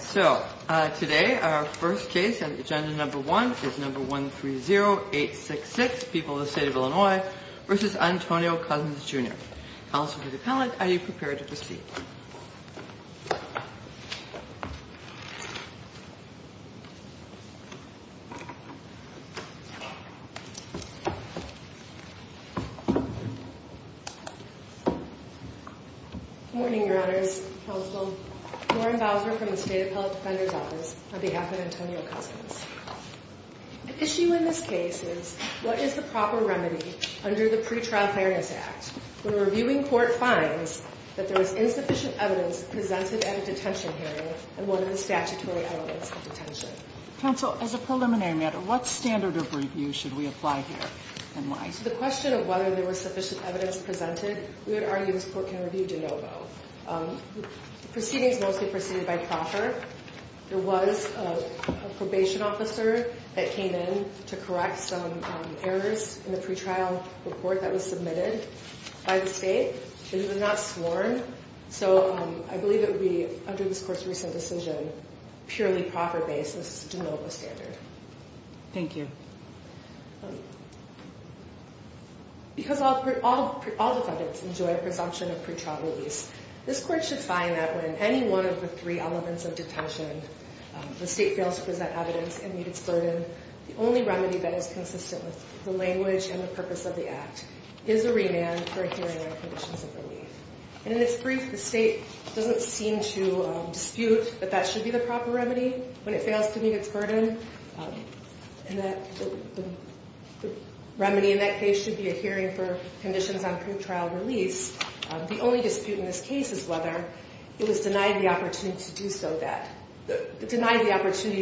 So, today our first case on agenda number one is number 130866, People of the State of Illinois v. Antonio Cousins, Jr. Council to the panelist, are you prepared to proceed? Good morning, your honors, counsel. Lauren Bowser from the State Appellate Defender's Office on behalf of Antonio Cousins. The issue in this case is what is the proper remedy under the Pretrial Fairness Act when a reviewing court finds that there is insufficient evidence presented at a detention hearing and one of the statutory elements of detention? Counsel, as a preliminary matter, what standard of review should we apply here and why? So, the question of whether there was sufficient evidence presented, we would argue this court can review de novo. Proceedings mostly proceeded by proffer. There was a probation officer that came in to correct some errors in the pretrial report that was submitted by the state. It was not sworn, so I believe it would be, under this court's recent decision, purely proffer-based. This is a de novo standard. Thank you. Because all defendants enjoy a presumption of pretrial release, this court should find that when any one of the three elements of detention the state fails to present evidence and meet its burden, the only remedy that is consistent with the language and the purpose of the act is a remand for a hearing on conditions of relief. In this brief, the state doesn't seem to dispute that that should be the proper remedy when it fails to meet its burden. The remedy in that case should be a hearing for conditions on pretrial release. The only dispute in this case is whether it was denied the opportunity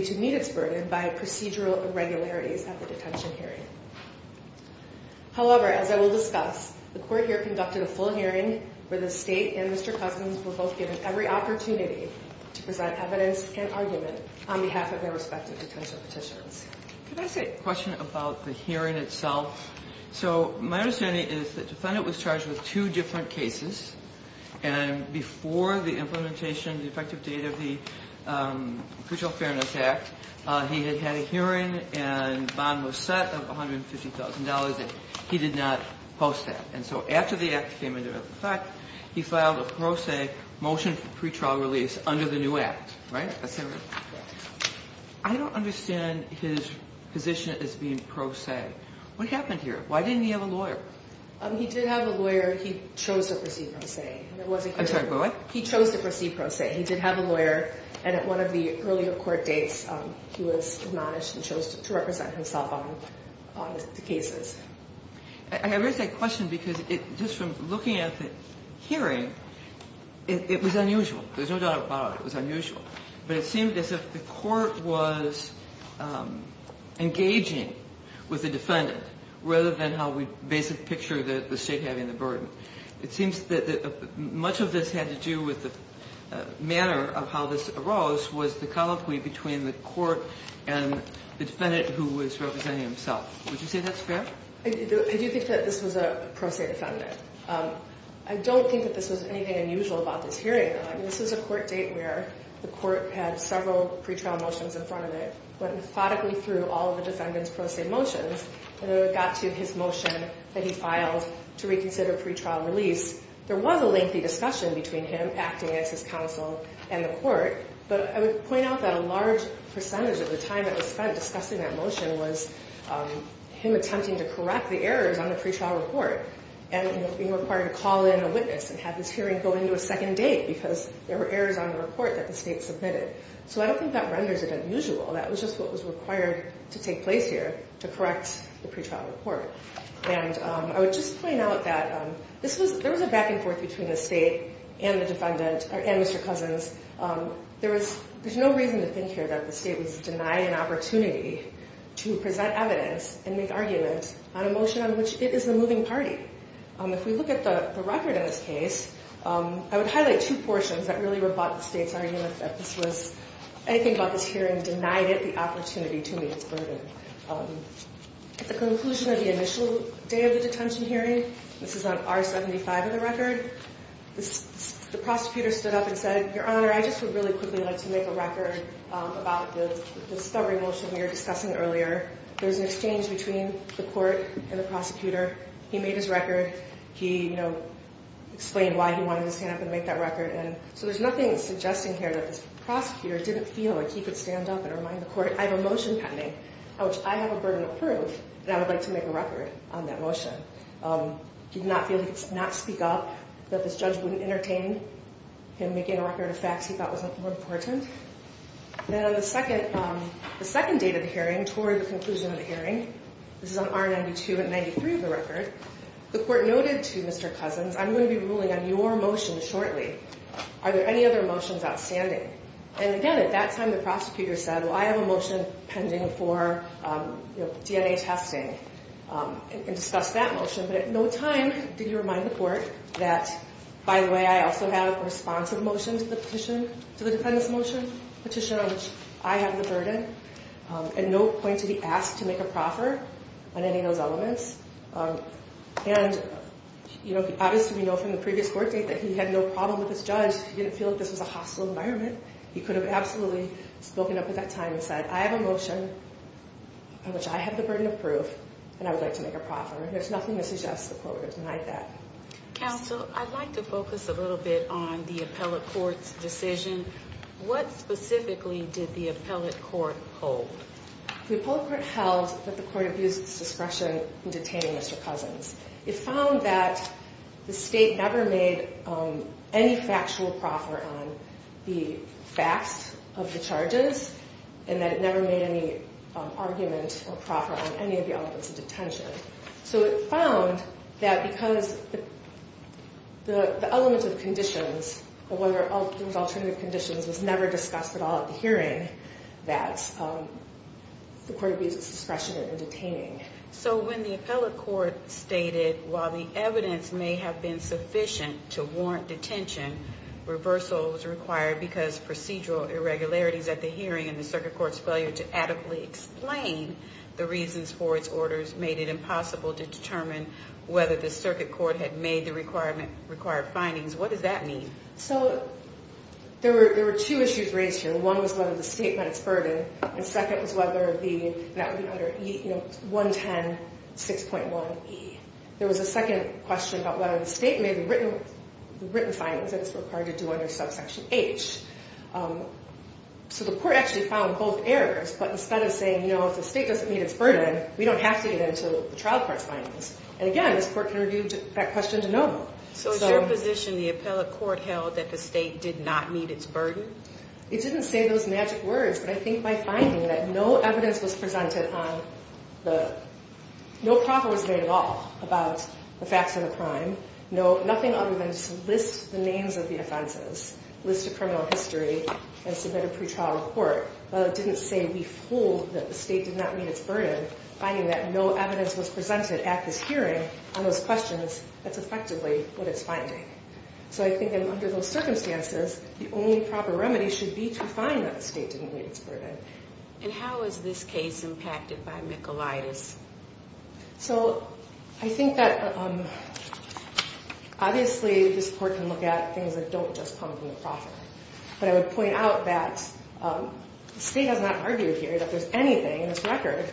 to meet its burden by procedural irregularities at the detention hearing. However, as I will discuss, the court here conducted a full hearing where the state and Mr. Cousins were both given every opportunity to present evidence and argument on behalf of their respective detention petitions. Could I say a question about the hearing itself? So my understanding is that the defendant was charged with two different cases, and before the implementation, the effective date of the Pretrial Fairness Act, he had had a hearing and bond was set of $150,000, and he did not post that. And so after the act came into effect, he filed a pro se motion for pretrial release under the new act, right? I don't understand his position as being pro se. What happened here? Why didn't he have a lawyer? He did have a lawyer. He chose to proceed pro se. I'm sorry, what? He chose to proceed pro se. He did have a lawyer, and at one of the earlier court dates, he was admonished and chose to represent himself on the cases. I raise that question because just from looking at the hearing, it was unusual. There's no doubt about it. It was unusual. But it seemed as if the court was engaging with the defendant rather than how we basic picture the state having the burden. It seems that much of this had to do with the manner of how this arose was the colloquy between the court and the defendant who was representing himself. Would you say that's fair? I do think that this was a pro se defendant. I don't think that this was anything unusual about this hearing. This was a court date where the court had several pretrial motions in front of it, went methodically through all of the defendant's pro se motions, and when it got to his motion that he filed to reconsider pretrial release, there was a lengthy discussion between him acting as his counsel and the court. But I would point out that a large percentage of the time that was spent discussing that motion was him attempting to correct the errors on the pretrial report and being required to call in a witness and have this hearing go into a second date because there were errors on the report that the state submitted. So I don't think that renders it unusual. That was just what was required to take place here to correct the pretrial report. And I would just point out that there was a back and forth between the state and the defendant and Mr. Cousins. There's no reason to think here that the state was denied an opportunity to present evidence and make arguments on a motion on which it is the moving party. If we look at the record in this case, I would highlight two portions that really rebut the state's argument that anything about this hearing denied it the opportunity to meet its burden. At the conclusion of the initial day of the detention hearing, this is on R75 of the record, the prosecutor stood up and said, Your Honor, I just would really quickly like to make a record about the discovery motion we were discussing earlier. There was an exchange between the court and the prosecutor. He made his record. He explained why he wanted to stand up and make that record. And so there's nothing suggesting here that this prosecutor didn't feel like he could stand up and remind the court, I have a motion pending, which I have a burden of proof that I would like to make a record on that motion. He did not feel he could not speak up, that this judge wouldn't entertain him making a record of facts he thought was more important. Then on the second date of the hearing, toward the conclusion of the hearing, this is on R92 and 93 of the record, the court noted to Mr. Cousins, I'm going to be ruling on your motion shortly. Are there any other motions outstanding? And again, at that time, the prosecutor said, Well, I have a motion pending for DNA testing, and discussed that motion. But at no time did he remind the court that, by the way, I also have a responsive motion to the petition, to the defendant's motion, petition on which I have the burden, and no point to be asked to make a proffer on any of those elements. And, you know, obviously, we know from the previous court date that he had no problem with this judge. He didn't feel that this was a hostile environment. He could have absolutely spoken up at that time and said, I have a motion on which I have the burden of proof, and I would like to make a proffer. There's nothing that suggests the court would deny that. Counsel, I'd like to focus a little bit on the appellate court's decision. What specifically did the appellate court hold? The appellate court held that the court abused its discretion in detaining Mr. Cousins. It found that the state never made any factual proffer on the facts of the charges, and that it never made any argument or proffer on any of the elements of detention. So it found that because the element of conditions, whether it was alternative conditions, was never discussed at all at the hearing, that the court abused its discretion in detaining. So when the appellate court stated, while the evidence may have been sufficient to warrant detention, reversal was required because procedural irregularities at the hearing and the circuit court's failure to adequately explain the reasons for its orders made it impossible to determine whether the circuit court had made the required findings. What does that mean? So there were two issues raised here. One was whether the state met its burden, and second was whether the—that would be under 110.6.1e. There was a second question about whether the state made the written findings that it's required to do under subsection H. So the court actually found both errors, but instead of saying, you know, if the state doesn't meet its burden, we don't have to get into the trial court's findings. And again, this court interviewed that question to know. So is your position the appellate court held that the state did not meet its burden? It didn't say those magic words, but I think by finding that no evidence was presented on the— no problem was made at all about the facts of the crime, nothing other than to list the names of the offenses, list a criminal history, and submit a pretrial report, but it didn't say we fooled that the state did not meet its burden. Finding that no evidence was presented at this hearing on those questions, that's effectively what it's finding. So I think that under those circumstances, the only proper remedy should be to find that the state didn't meet its burden. And how is this case impacted by Michaelitis? So I think that obviously this court can look at things that don't just come from the profit, but I would point out that the state has not argued here that there's anything in this record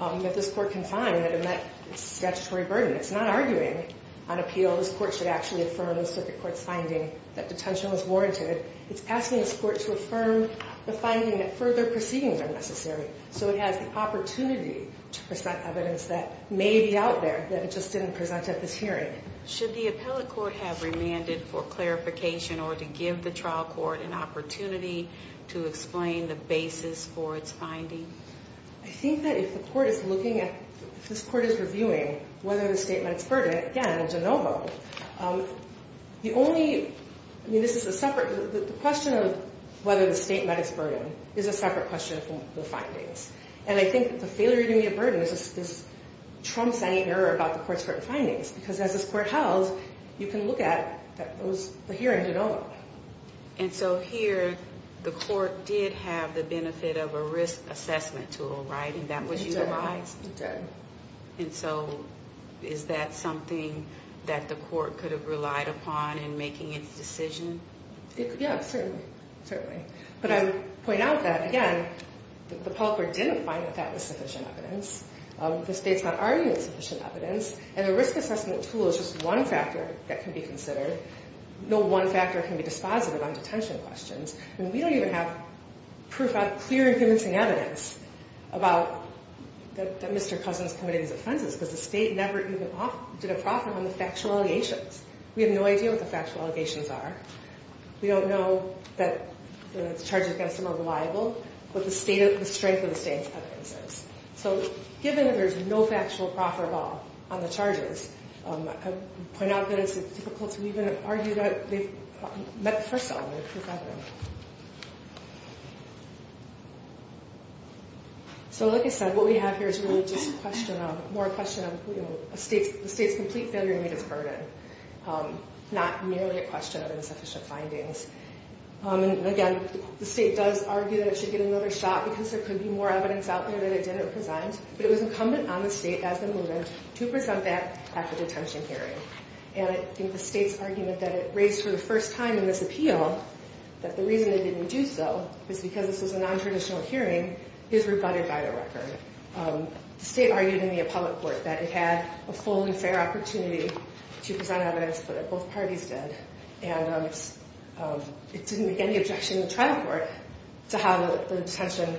that this court can find that met its statutory burden. It's not arguing on appeal this court should actually affirm the circuit court's finding that detention was warranted. It's asking this court to affirm the finding that further proceedings are necessary, so it has the opportunity to present evidence that may be out there that it just didn't present at this hearing. Should the appellate court have remanded for clarification or to give the trial court an opportunity to explain the basis for its finding? I think that if the court is looking at, if this court is reviewing whether the state met its burden, again, in Jenova, the only, I mean, this is a separate, the question of whether the state met its burden is a separate question from the findings. And I think that the failure to meet a burden is, this trumps any error about the court's current findings, because as this court held, you can look at those, here in Jenova. And so here, the court did have the benefit of a risk assessment tool, right? It did. And that was utilized? It did. And so is that something that the court could have relied upon in making its decision? Yeah, certainly, certainly. But I would point out that, again, the appellate court didn't find that that was sufficient evidence. The state's not arguing it's sufficient evidence. And a risk assessment tool is just one factor that can be considered. No one factor can be dispositive on detention questions. And we don't even have clear and convincing evidence about that Mr. Cousin's committed these offenses, because the state never even did a proffer on the factual allegations. We have no idea what the factual allegations are. We don't know that the charges against him are reliable, but the strength of the state's evidence is. So given that there's no factual proffer ball on the charges, I would point out that it's difficult to even argue that they've met the first element of his evidence. So like I said, what we have here is really just a question of, more a question of, you know, the state's complete failure to meet its burden, not merely a question of insufficient findings. And again, the state does argue that it should get another shot, because there could be more evidence out there that it didn't present. But it was incumbent on the state as the movement to present that at the detention hearing. And I think the state's argument that it raised for the first time in this appeal, that the reason they didn't do so is because this was a nontraditional hearing, is rebutted by the record. The state argued in the appellate court that it had a full and fair opportunity to present evidence, but that both parties did. And it didn't make any objection in the trial court to how the detention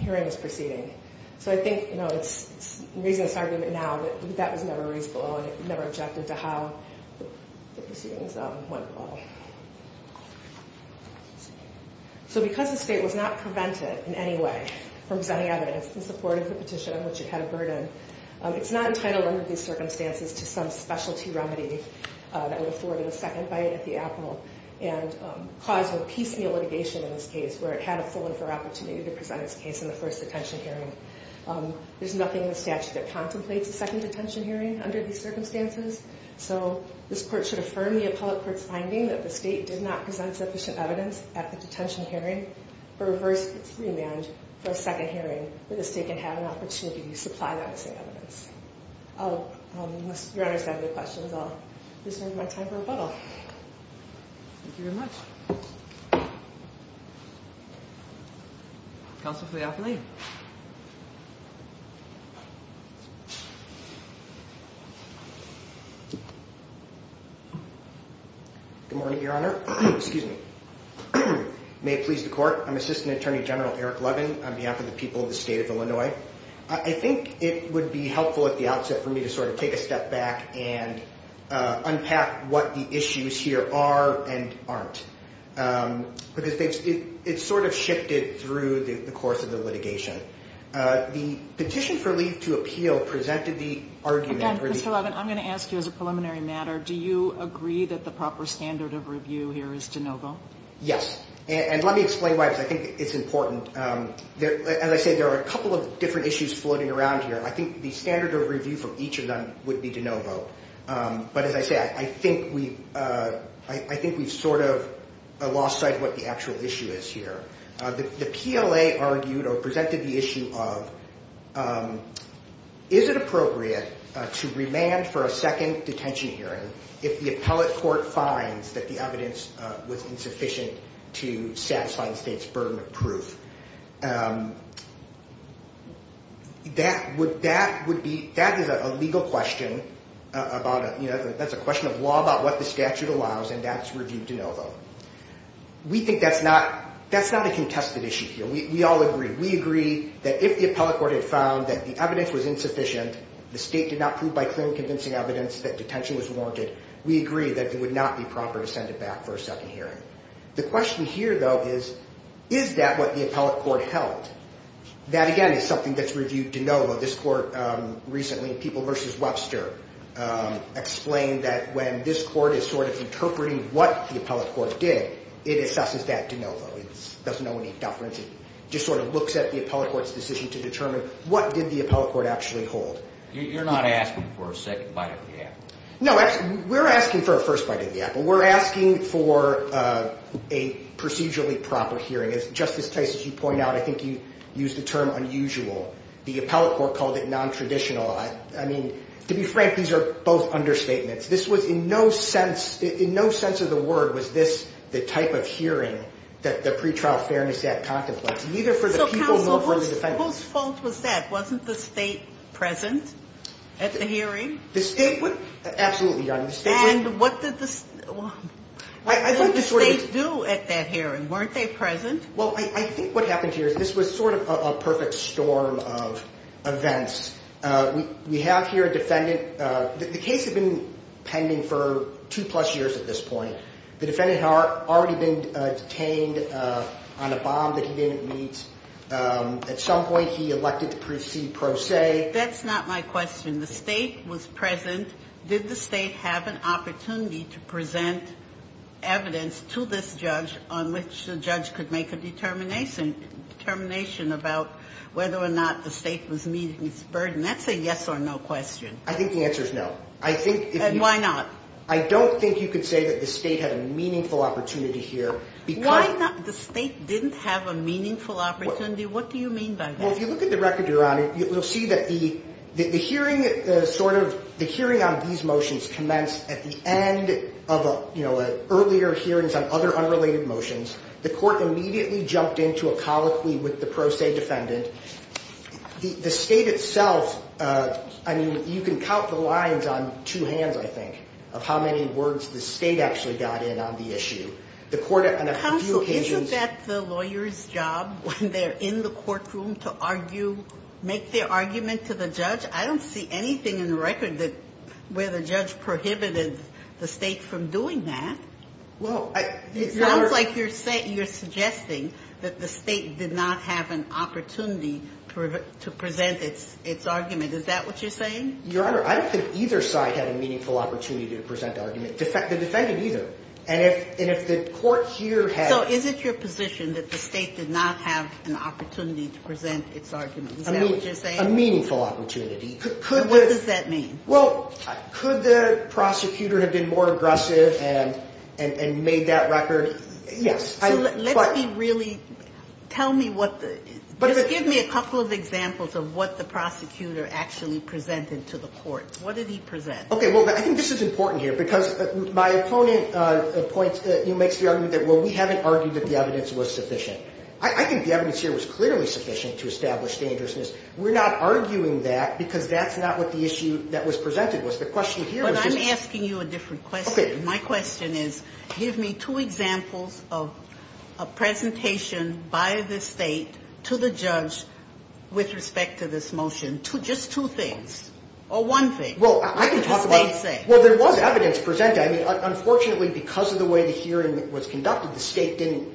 hearing was proceeding. So I think, you know, it's the reason it's an argument now that that was never raised below, and it never objected to how the proceedings went at all. So because the state was not prevented in any way from presenting evidence in support of the petition on which it had a burden, it's not entitled under these circumstances to some specialty remedy that would afford a second bite at the apple and cause a piecemeal litigation in this case, where it had a full and fair opportunity to present its case in the first detention hearing. There's nothing in the statute that contemplates a second detention hearing under these circumstances. So this court should affirm the appellate court's finding that the state did not present sufficient evidence at the detention hearing or reverse its remand for a second hearing where the state can have an opportunity to supply that same evidence. Unless Your Honor's got any questions, I'll reserve my time for rebuttal. Thank you very much. Counsel for the appellate. Good morning, Your Honor. Excuse me. May it please the court, I'm Assistant Attorney General Eric Levin. On behalf of the people of the state of Illinois, I think it would be helpful at the outset for me to sort of take a step back and unpack what the issues here are and aren't. Because it's sort of shifted through the course of the litigation. The petition for leave to appeal presented the argument... Again, Mr. Levin, I'm going to ask you as a preliminary matter, do you agree that the proper standard of review here is de novo? Yes. And let me explain why, because I think it's important. As I said, there are a couple of different issues floating around here. I think the standard of review for each of them would be de novo. But as I said, I think we've sort of lost sight of what the actual issue is here. The PLA argued or presented the issue of, is it appropriate to remand for a second detention hearing if the appellate court finds that the evidence was insufficient to satisfy the state's burden of proof? That is a legal question. That's a question of law about what the statute allows, and that's review de novo. We think that's not a contested issue here. We all agree. We agree that if the appellate court had found that the evidence was insufficient, the state did not prove by clear and convincing evidence that detention was warranted, we agree that it would not be proper to send it back for a second hearing. The question here, though, is, is that what the appellate court held? That, again, is something that's reviewed de novo. This court recently, People v. Webster, explained that when this court is sort of interpreting what the appellate court did, it assesses that de novo. It doesn't know any deference. It just sort of looks at the appellate court's decision to determine what did the appellate court actually hold. You're not asking for a second bite of the apple. No, we're asking for a first bite of the apple. We're asking for a procedurally proper hearing. As Justice Tice, as you point out, I think you used the term unusual. The appellate court called it nontraditional. I mean, to be frank, these are both understatements. This was in no sense, in no sense of the word, was this the type of hearing that the Pretrial Fairness Act contemplates, neither for the people nor for the defendants. So, counsel, whose fault was that? Wasn't the state present at the hearing? The state, absolutely, Your Honor. And what did the state do at that hearing? Weren't they present? Well, I think what happened here is this was sort of a perfect storm of events. We have here a defendant. The case had been pending for two-plus years at this point. The defendant had already been detained on a bomb that he didn't meet. At some point he elected to proceed pro se. That's not my question. The state was present. Did the state have an opportunity to present evidence to this judge on which the judge could make a determination about whether or not the state was meeting its burden? That's a yes or no question. I think the answer is no. And why not? I don't think you could say that the state had a meaningful opportunity here because Why not? The state didn't have a meaningful opportunity. What do you mean by that? Well, if you look at the record, Your Honor, you'll see that the hearing sort of, the hearing on these motions commenced at the end of, you know, earlier hearings on other unrelated motions. The court immediately jumped into a colloquy with the pro se defendant. The state itself, I mean, you can count the lines on two hands, I think, of how many words the state actually got in on the issue. The court on a few occasions Counsel, isn't that the lawyer's job when they're in the courtroom to argue, make their argument to the judge? I don't see anything in the record where the judge prohibited the state from doing that. Well, I It sounds like you're suggesting that the state did not have an opportunity to present its argument. Is that what you're saying? Your Honor, I don't think either side had a meaningful opportunity to present the argument. The defendant either. And if the court here had So is it your position that the state did not have an opportunity to present its argument? Is that what you're saying? A meaningful opportunity. Could What does that mean? Well, could the prosecutor have been more aggressive and made that record? Yes. So let's be really, tell me what the, just give me a couple of examples of what the prosecutor actually presented to the court. What did he present? Okay, well, I think this is important here because my opponent points, you know, makes the argument that, well, we haven't argued that the evidence was sufficient. I think the evidence here was clearly sufficient to establish dangerousness. We're not arguing that because that's not what the issue that was presented was. The question here is But I'm asking you a different question. My question is, give me two examples of a presentation by the state to the judge with respect to this motion. Just two things or one thing. Well, I can talk about What does the state say? Well, there was evidence presented. I mean, unfortunately, because of the way the hearing was conducted, the state didn't,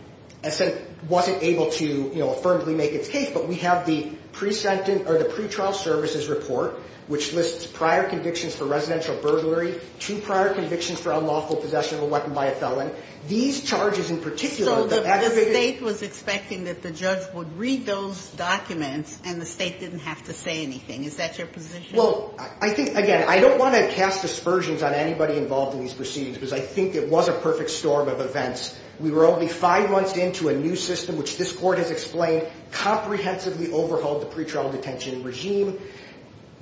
wasn't able to, you know, affirmably make its case. But we have the pre-trial services report, which lists prior convictions for residential burglary, two prior convictions for unlawful possession of a weapon by a felon. These charges in particular So the state was expecting that the judge would read those documents and the state didn't have to say anything. Is that your position? Well, I think, again, I don't want to cast aspersions on anybody involved in these proceedings because I think it was a perfect storm of events. We were only five months into a new system, which this court has explained, comprehensively overhauled the pre-trial detention regime.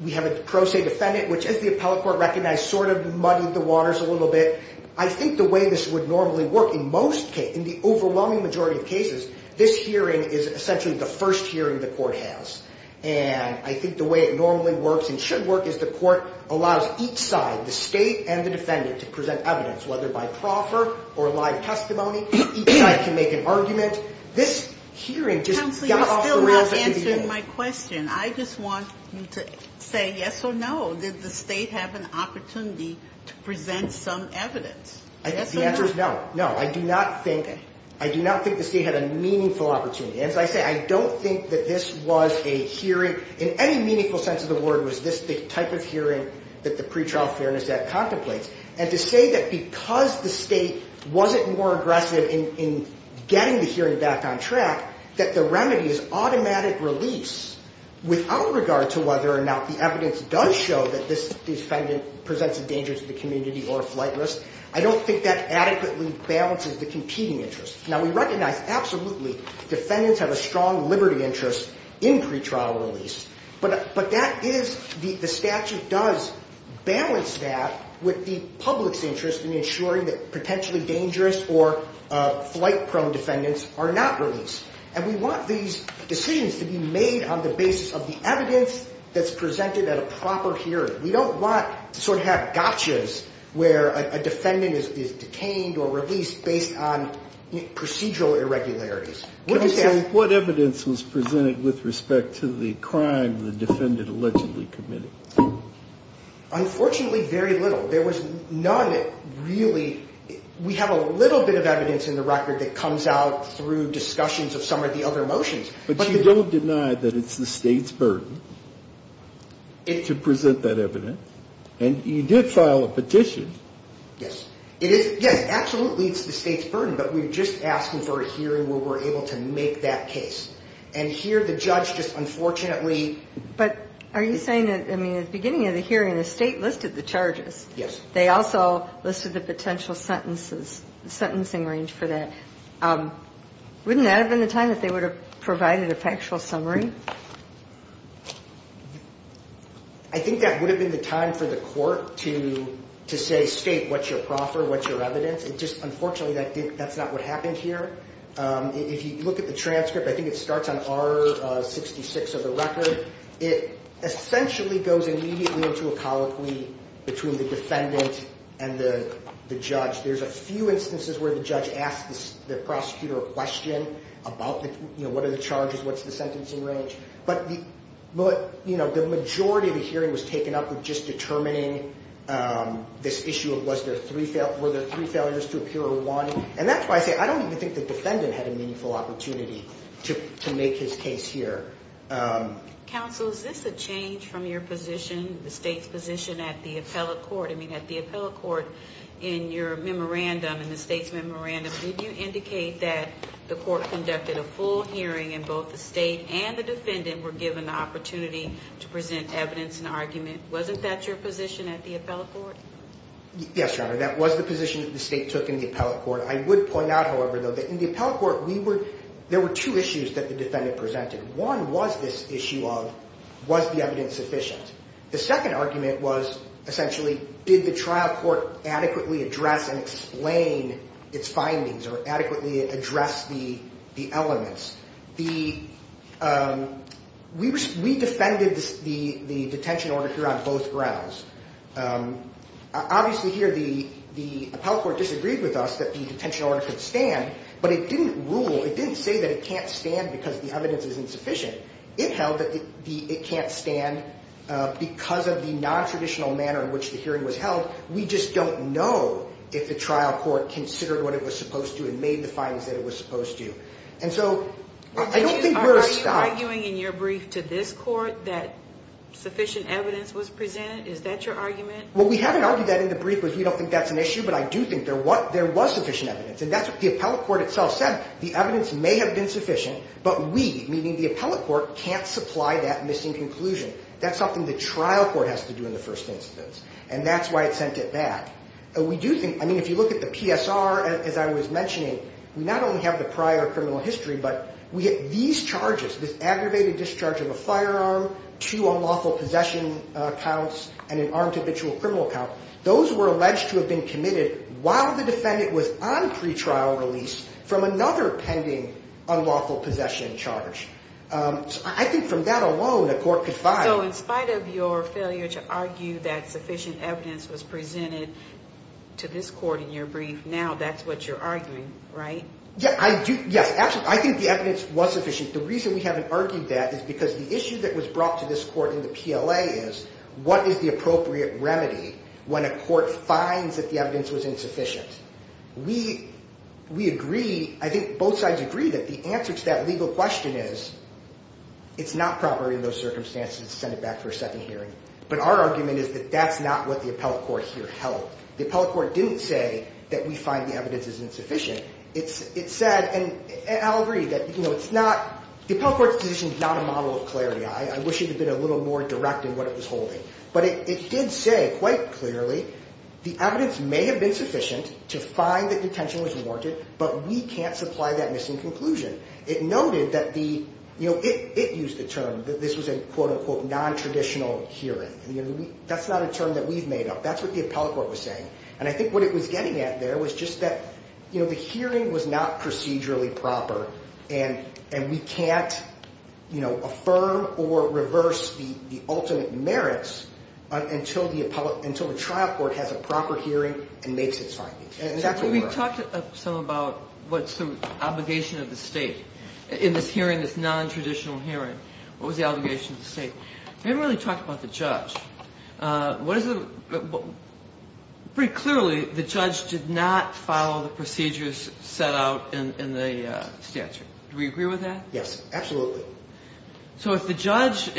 We have a pro se defendant, which, as the appellate court recognized, sort of muddied the waters a little bit. I think the way this would normally work in most cases, in the overwhelming majority of cases, this hearing is essentially the first hearing the court has. And I think the way it normally works and should work is the court allows each side, the state and the defendant, to present evidence, whether by proffer or live testimony. Each side can make an argument. This hearing just got off the rails at the beginning. Counselor, you're still not answering my question. I just want you to say yes or no. Did the state have an opportunity to present some evidence? The answer is no. No, I do not think the state had a meaningful opportunity. As I say, I don't think that this was a hearing, in any meaningful sense of the word, was this the type of hearing that the Pre-Trial Fairness Act contemplates. And to say that because the state wasn't more aggressive in getting the hearing back on track, that the remedy is automatic release without regard to whether or not the evidence does show that this defendant presents a danger to the community or flight risk, I don't think that adequately balances the competing interests. Now, we recognize absolutely defendants have a strong liberty interest in pretrial release, but that is, the statute does balance that with the public's interest in ensuring that potentially dangerous or flight-prone defendants are not released. And we want these decisions to be made on the basis of the evidence that's presented at a proper hearing. We don't want to sort of have gotchas where a defendant is detained or released based on procedural irregularities. What evidence was presented with respect to the crime the defendant allegedly committed? Unfortunately, very little. There was none really. We have a little bit of evidence in the record that comes out through discussions of some of the other motions. But you don't deny that it's the state's burden to present that evidence. And you did file a petition. Yes. It is, yes, absolutely it's the state's burden, but we're just asking for a hearing where we're able to make that case. And here the judge just unfortunately... But are you saying that, I mean, at the beginning of the hearing, the state listed the charges. Yes. They also listed the potential sentences, sentencing range for that. Wouldn't that have been the time that they would have provided a factual summary? I think that would have been the time for the court to say, state what's your proffer, what's your evidence. Unfortunately, that's not what happened here. If you look at the transcript, I think it starts on R66 of the record. It essentially goes immediately into a colloquy between the defendant and the judge. There's a few instances where the judge asks the prosecutor a question about what are the charges, what's the sentencing range. But the majority of the hearing was taken up with just determining this issue of were there three failures to appear or one. And that's why I say I don't even think the defendant had a meaningful opportunity to make his case here. Counsel, is this a change from your position, the state's position at the appellate court? In your memorandum, in the state's memorandum, did you indicate that the court conducted a full hearing and both the state and the defendant were given the opportunity to present evidence and argument? Wasn't that your position at the appellate court? Yes, Your Honor. That was the position that the state took in the appellate court. I would point out, however, though, that in the appellate court, there were two issues that the defendant presented. One was this issue of was the evidence sufficient? The second argument was essentially did the trial court adequately address and explain its findings or adequately address the elements? We defended the detention order here on both grounds. Obviously here the appellate court disagreed with us that the detention order could stand, but it didn't rule, it didn't say that it can't stand because the evidence isn't sufficient. It held that it can't stand because of the nontraditional manner in which the hearing was held. We just don't know if the trial court considered what it was supposed to and made the findings that it was supposed to. Are you arguing in your brief to this court that sufficient evidence was presented? Is that your argument? Well, we haven't argued that in the brief because we don't think that's an issue, but I do think there was sufficient evidence. And that's what the appellate court itself said. The evidence may have been sufficient, but we, meaning the appellate court, can't supply that missing conclusion. That's something the trial court has to do in the first instance, and that's why it sent it back. We do think, I mean, if you look at the PSR, as I was mentioning, we not only have the prior criminal history, but we get these charges, this aggravated discharge of a firearm, two unlawful possession counts, and an armed habitual criminal count. Those were alleged to have been committed while the defendant was on pretrial release from another pending unlawful possession charge. I think from that alone a court could find. So in spite of your failure to argue that sufficient evidence was presented to this court in your brief, now that's what you're arguing, right? Yes, absolutely. I think the evidence was sufficient. The reason we haven't argued that is because the issue that was brought to this court in the PLA is what is the appropriate remedy when a court finds that the evidence was insufficient. We agree, I think both sides agree, that the answer to that legal question is it's not proper in those circumstances to send it back for a second hearing. But our argument is that that's not what the appellate court here held. The appellate court didn't say that we find the evidence is insufficient. It said, and I'll agree, that it's not, the appellate court's position is not a model of clarity. I wish it had been a little more direct in what it was holding. But it did say quite clearly the evidence may have been sufficient to find that detention was warranted, but we can't supply that missing conclusion. It noted that the, you know, it used the term that this was a quote-unquote non-traditional hearing. That's not a term that we've made up. That's what the appellate court was saying. And I think what it was getting at there was just that, you know, the hearing was not procedurally proper, and we can't, you know, affirm or reverse the ultimate merits until the trial court has a proper hearing and makes its findings. And that's what we were. We talked some about what's the obligation of the state in this hearing, this non-traditional hearing. What was the obligation of the state? We didn't really talk about the judge. What is the ‑‑ pretty clearly the judge did not follow the procedures set out in the statute. Do we agree with that? Yes, absolutely. So if the judge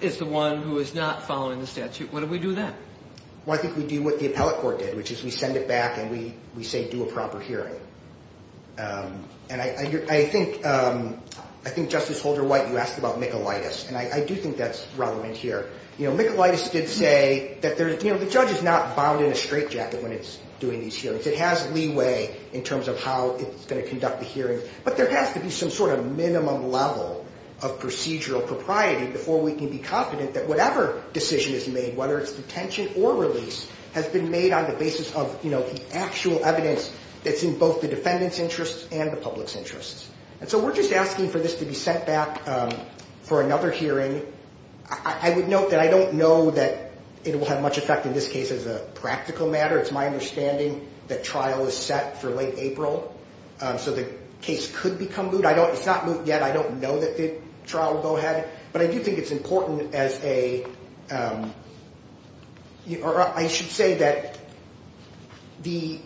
is the one who is not following the statute, what do we do then? Well, I think we do what the appellate court did, which is we send it back and we say do a proper hearing. And I think Justice Holder-White, you asked about Michaelitis, and I do think that's relevant here. You know, Michaelitis did say that, you know, the judge is not bound in a straitjacket when it's doing these hearings. It has leeway in terms of how it's going to conduct the hearing. But there has to be some sort of minimum level of procedural propriety before we can be confident that whatever decision is made, whether it's detention or release, has been made on the basis of, you know, the actual evidence that's in both the defendant's interests and the public's interests. And so we're just asking for this to be sent back for another hearing. I would note that I don't know that it will have much effect in this case as a practical matter. It's my understanding that trial is set for late April, so the case could become moot. It's not moot yet. I don't know that the trial will go ahead. But I do think it's important as a – or I should say that the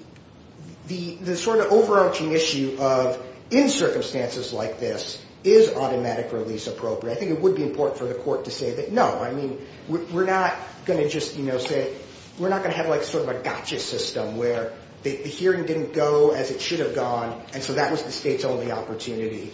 sort of overarching issue of, in circumstances like this, is automatic release appropriate? I think it would be important for the court to say that no. I mean, we're not going to just, you know, say – we're not going to have like sort of a gotcha system where the hearing didn't go as it should have gone, and so that was the State's only opportunity.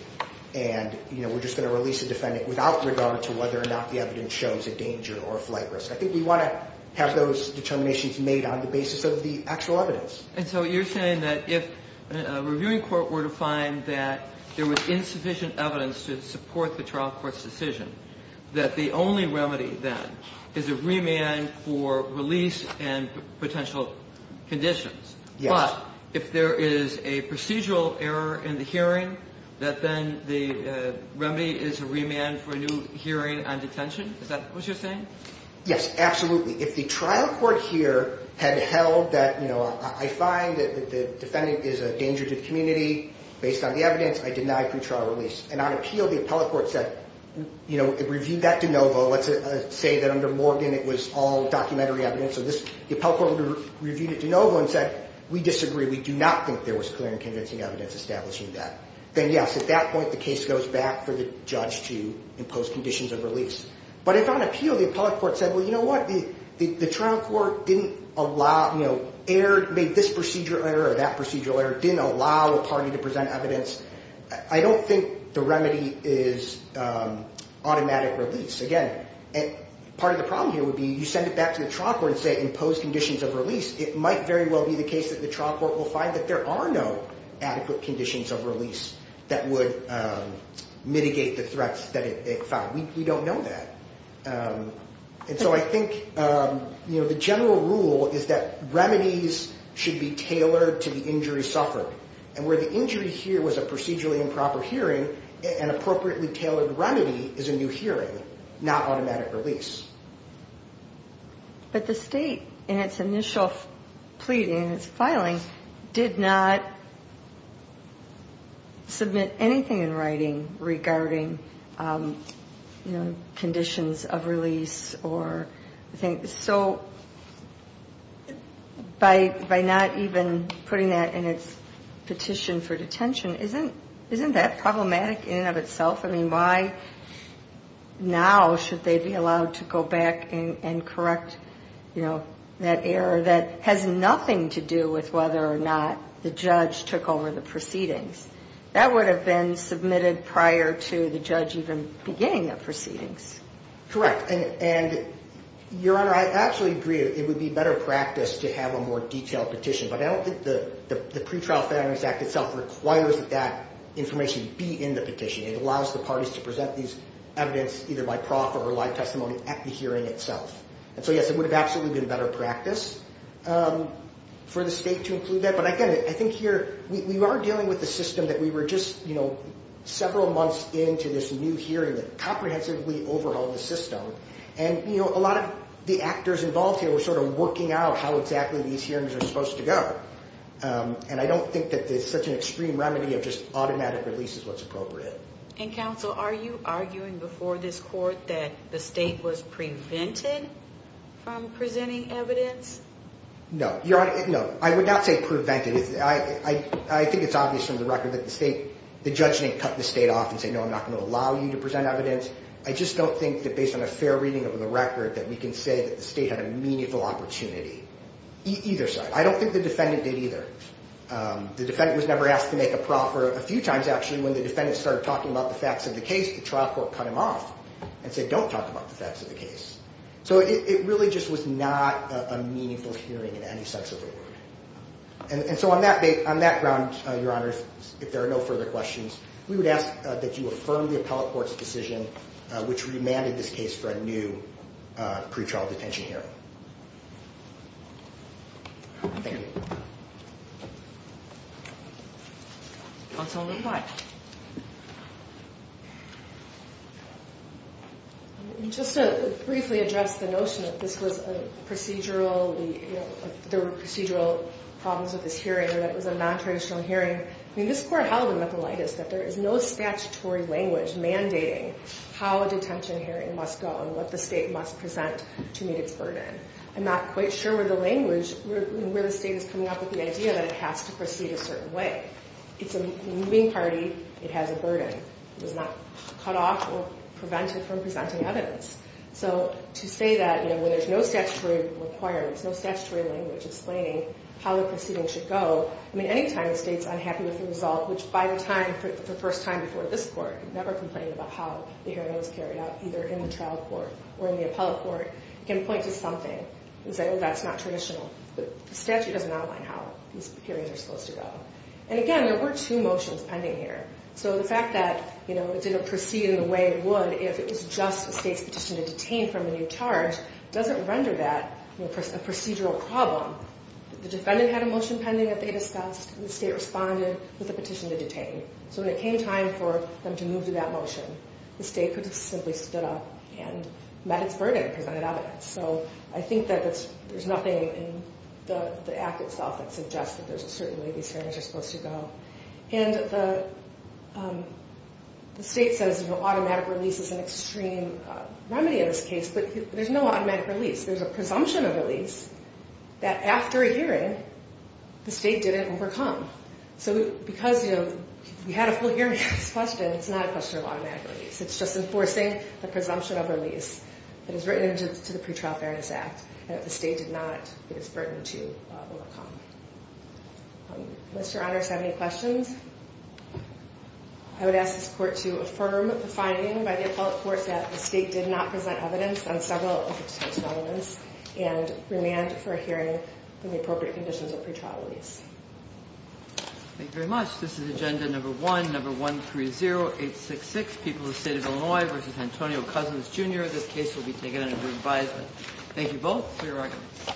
And, you know, we're just going to release the defendant without regard to whether or not the evidence shows a danger or a flight risk. I think we want to have those determinations made on the basis of the actual evidence. And so you're saying that if a reviewing court were to find that there was insufficient evidence to support the trial court's decision, that the only remedy then is a remand for release and potential conditions. Yes. But if there is a procedural error in the hearing, that then the remedy is a remand for a new hearing on detention? Is that what you're saying? Yes, absolutely. If the trial court here had held that, you know, I find that the defendant is a danger to the community based on the evidence, I deny pre-trial release. And on appeal, the appellate court said, you know, it reviewed that de novo. Let's say that under Morgan it was all documentary evidence. So the appellate court reviewed it de novo and said, we disagree. We do not think there was clear and convincing evidence establishing that. Then, yes, at that point the case goes back for the judge to impose conditions of release. But if on appeal the appellate court said, well, you know what, the trial court didn't allow, you know, made this procedural error or that procedural error, didn't allow a party to present evidence, I don't think the remedy is automatic release. Again, part of the problem here would be you send it back to the trial court and say impose conditions of release, it might very well be the case that the trial court will find that there are no adequate conditions of release that would mitigate the threats that it found. We don't know that. And so I think, you know, the general rule is that remedies should be tailored to the injury suffered. And where the injury here was a procedurally improper hearing, an appropriately tailored remedy is a new hearing, not automatic release. But the state in its initial plea, in its filing, did not submit anything in writing regarding, you know, conditions of release. So by not even putting that in its petition for detention, isn't that problematic in and of itself? I mean, why now should they be allowed to go back and correct, you know, that error that has nothing to do with whether or not the judge took over the proceedings? That would have been submitted prior to the judge even beginning the proceedings. Correct. And, Your Honor, I absolutely agree that it would be better practice to have a more detailed petition, but I don't think the Pretrial Families Act itself requires that that information be in the petition. It allows the parties to present these evidence either by proffer or live testimony at the hearing itself. And so, yes, it would have absolutely been better practice for the state to include that. But again, I think here we are dealing with the system that we were just, you know, several months into this new hearing that comprehensively overhauled the system. And, you know, a lot of the actors involved here were sort of working out how exactly these hearings are supposed to go. And I don't think that there's such an extreme remedy of just automatic release is what's appropriate. And, Counsel, are you arguing before this court that the state was prevented from presenting evidence? No, Your Honor. No, I would not say prevented. I think it's obvious from the record that the state, the judge didn't cut the state off and say, no, I'm not going to allow you to present evidence. I just don't think that based on a fair reading of the record that we can say that the state had a meaningful opportunity either side. I don't think the defendant did either. The defendant was never asked to make a proffer. A few times, actually, when the defendant started talking about the facts of the case, the trial court cut him off and said, don't talk about the facts of the case. So it really just was not a meaningful hearing in any sense of the word. And so on that date, on that ground, Your Honor, if there are no further questions, we would ask that you affirm the appellate court's decision, which remanded this case for a new pretrial detention hearing. Thank you. Counsel McClatchy. Just to briefly address the notion that this was a procedural, there were procedural problems with this hearing and that it was a nontraditional hearing. I mean, this court held in Metholitus that there is no statutory language mandating how a detention hearing must go and what the state must present to meet its burden. I'm not quite sure where the language, where the state is coming up with the idea that it has to proceed a certain way. It's a moving party. It has a burden. It does not cut off or prevent it from presenting evidence. So to say that, you know, when there's no statutory requirements, no statutory language explaining how the proceeding should go, I mean, anytime the state's unhappy with the result, which by the time, the first time before this court, never complained about how the hearing was carried out, either in the trial court or in the appellate court, it can point to something and say, oh, that's not traditional. But the statute doesn't outline how these hearings are supposed to go. And again, there were two motions pending here. So the fact that, you know, it didn't proceed in the way it would if it was just the state's petition to detain from a new charge doesn't render that a procedural problem. The defendant had a motion pending that they discussed, and the state responded with a petition to detain. So when it came time for them to move to that motion, the state could have simply stood up and met its burden and presented evidence. So I think that there's nothing in the act itself that suggests that there's a certain way these hearings are supposed to go. And the state says, you know, automatic release is an extreme remedy in this case, but there's no automatic release. There's a presumption of release that after a hearing, the state didn't overcome. So because, you know, we had a full hearing on this question, it's not a question of automatic release. It's just enforcing the presumption of release that is written into the Pretrial Fairness Act that the state did not put its burden to overcome. Unless your honors have any questions, I would ask this court to affirm the finding by the appellate court that the state did not present evidence on several of its relevance and remand for a hearing on the appropriate conditions of pretrial release. Thank you very much. This is Agenda Number 1, Number 130866, People of the State of Illinois v. Antonio Cousins, Jr. This case will be taken under your advisement. Thank you both for your arguments.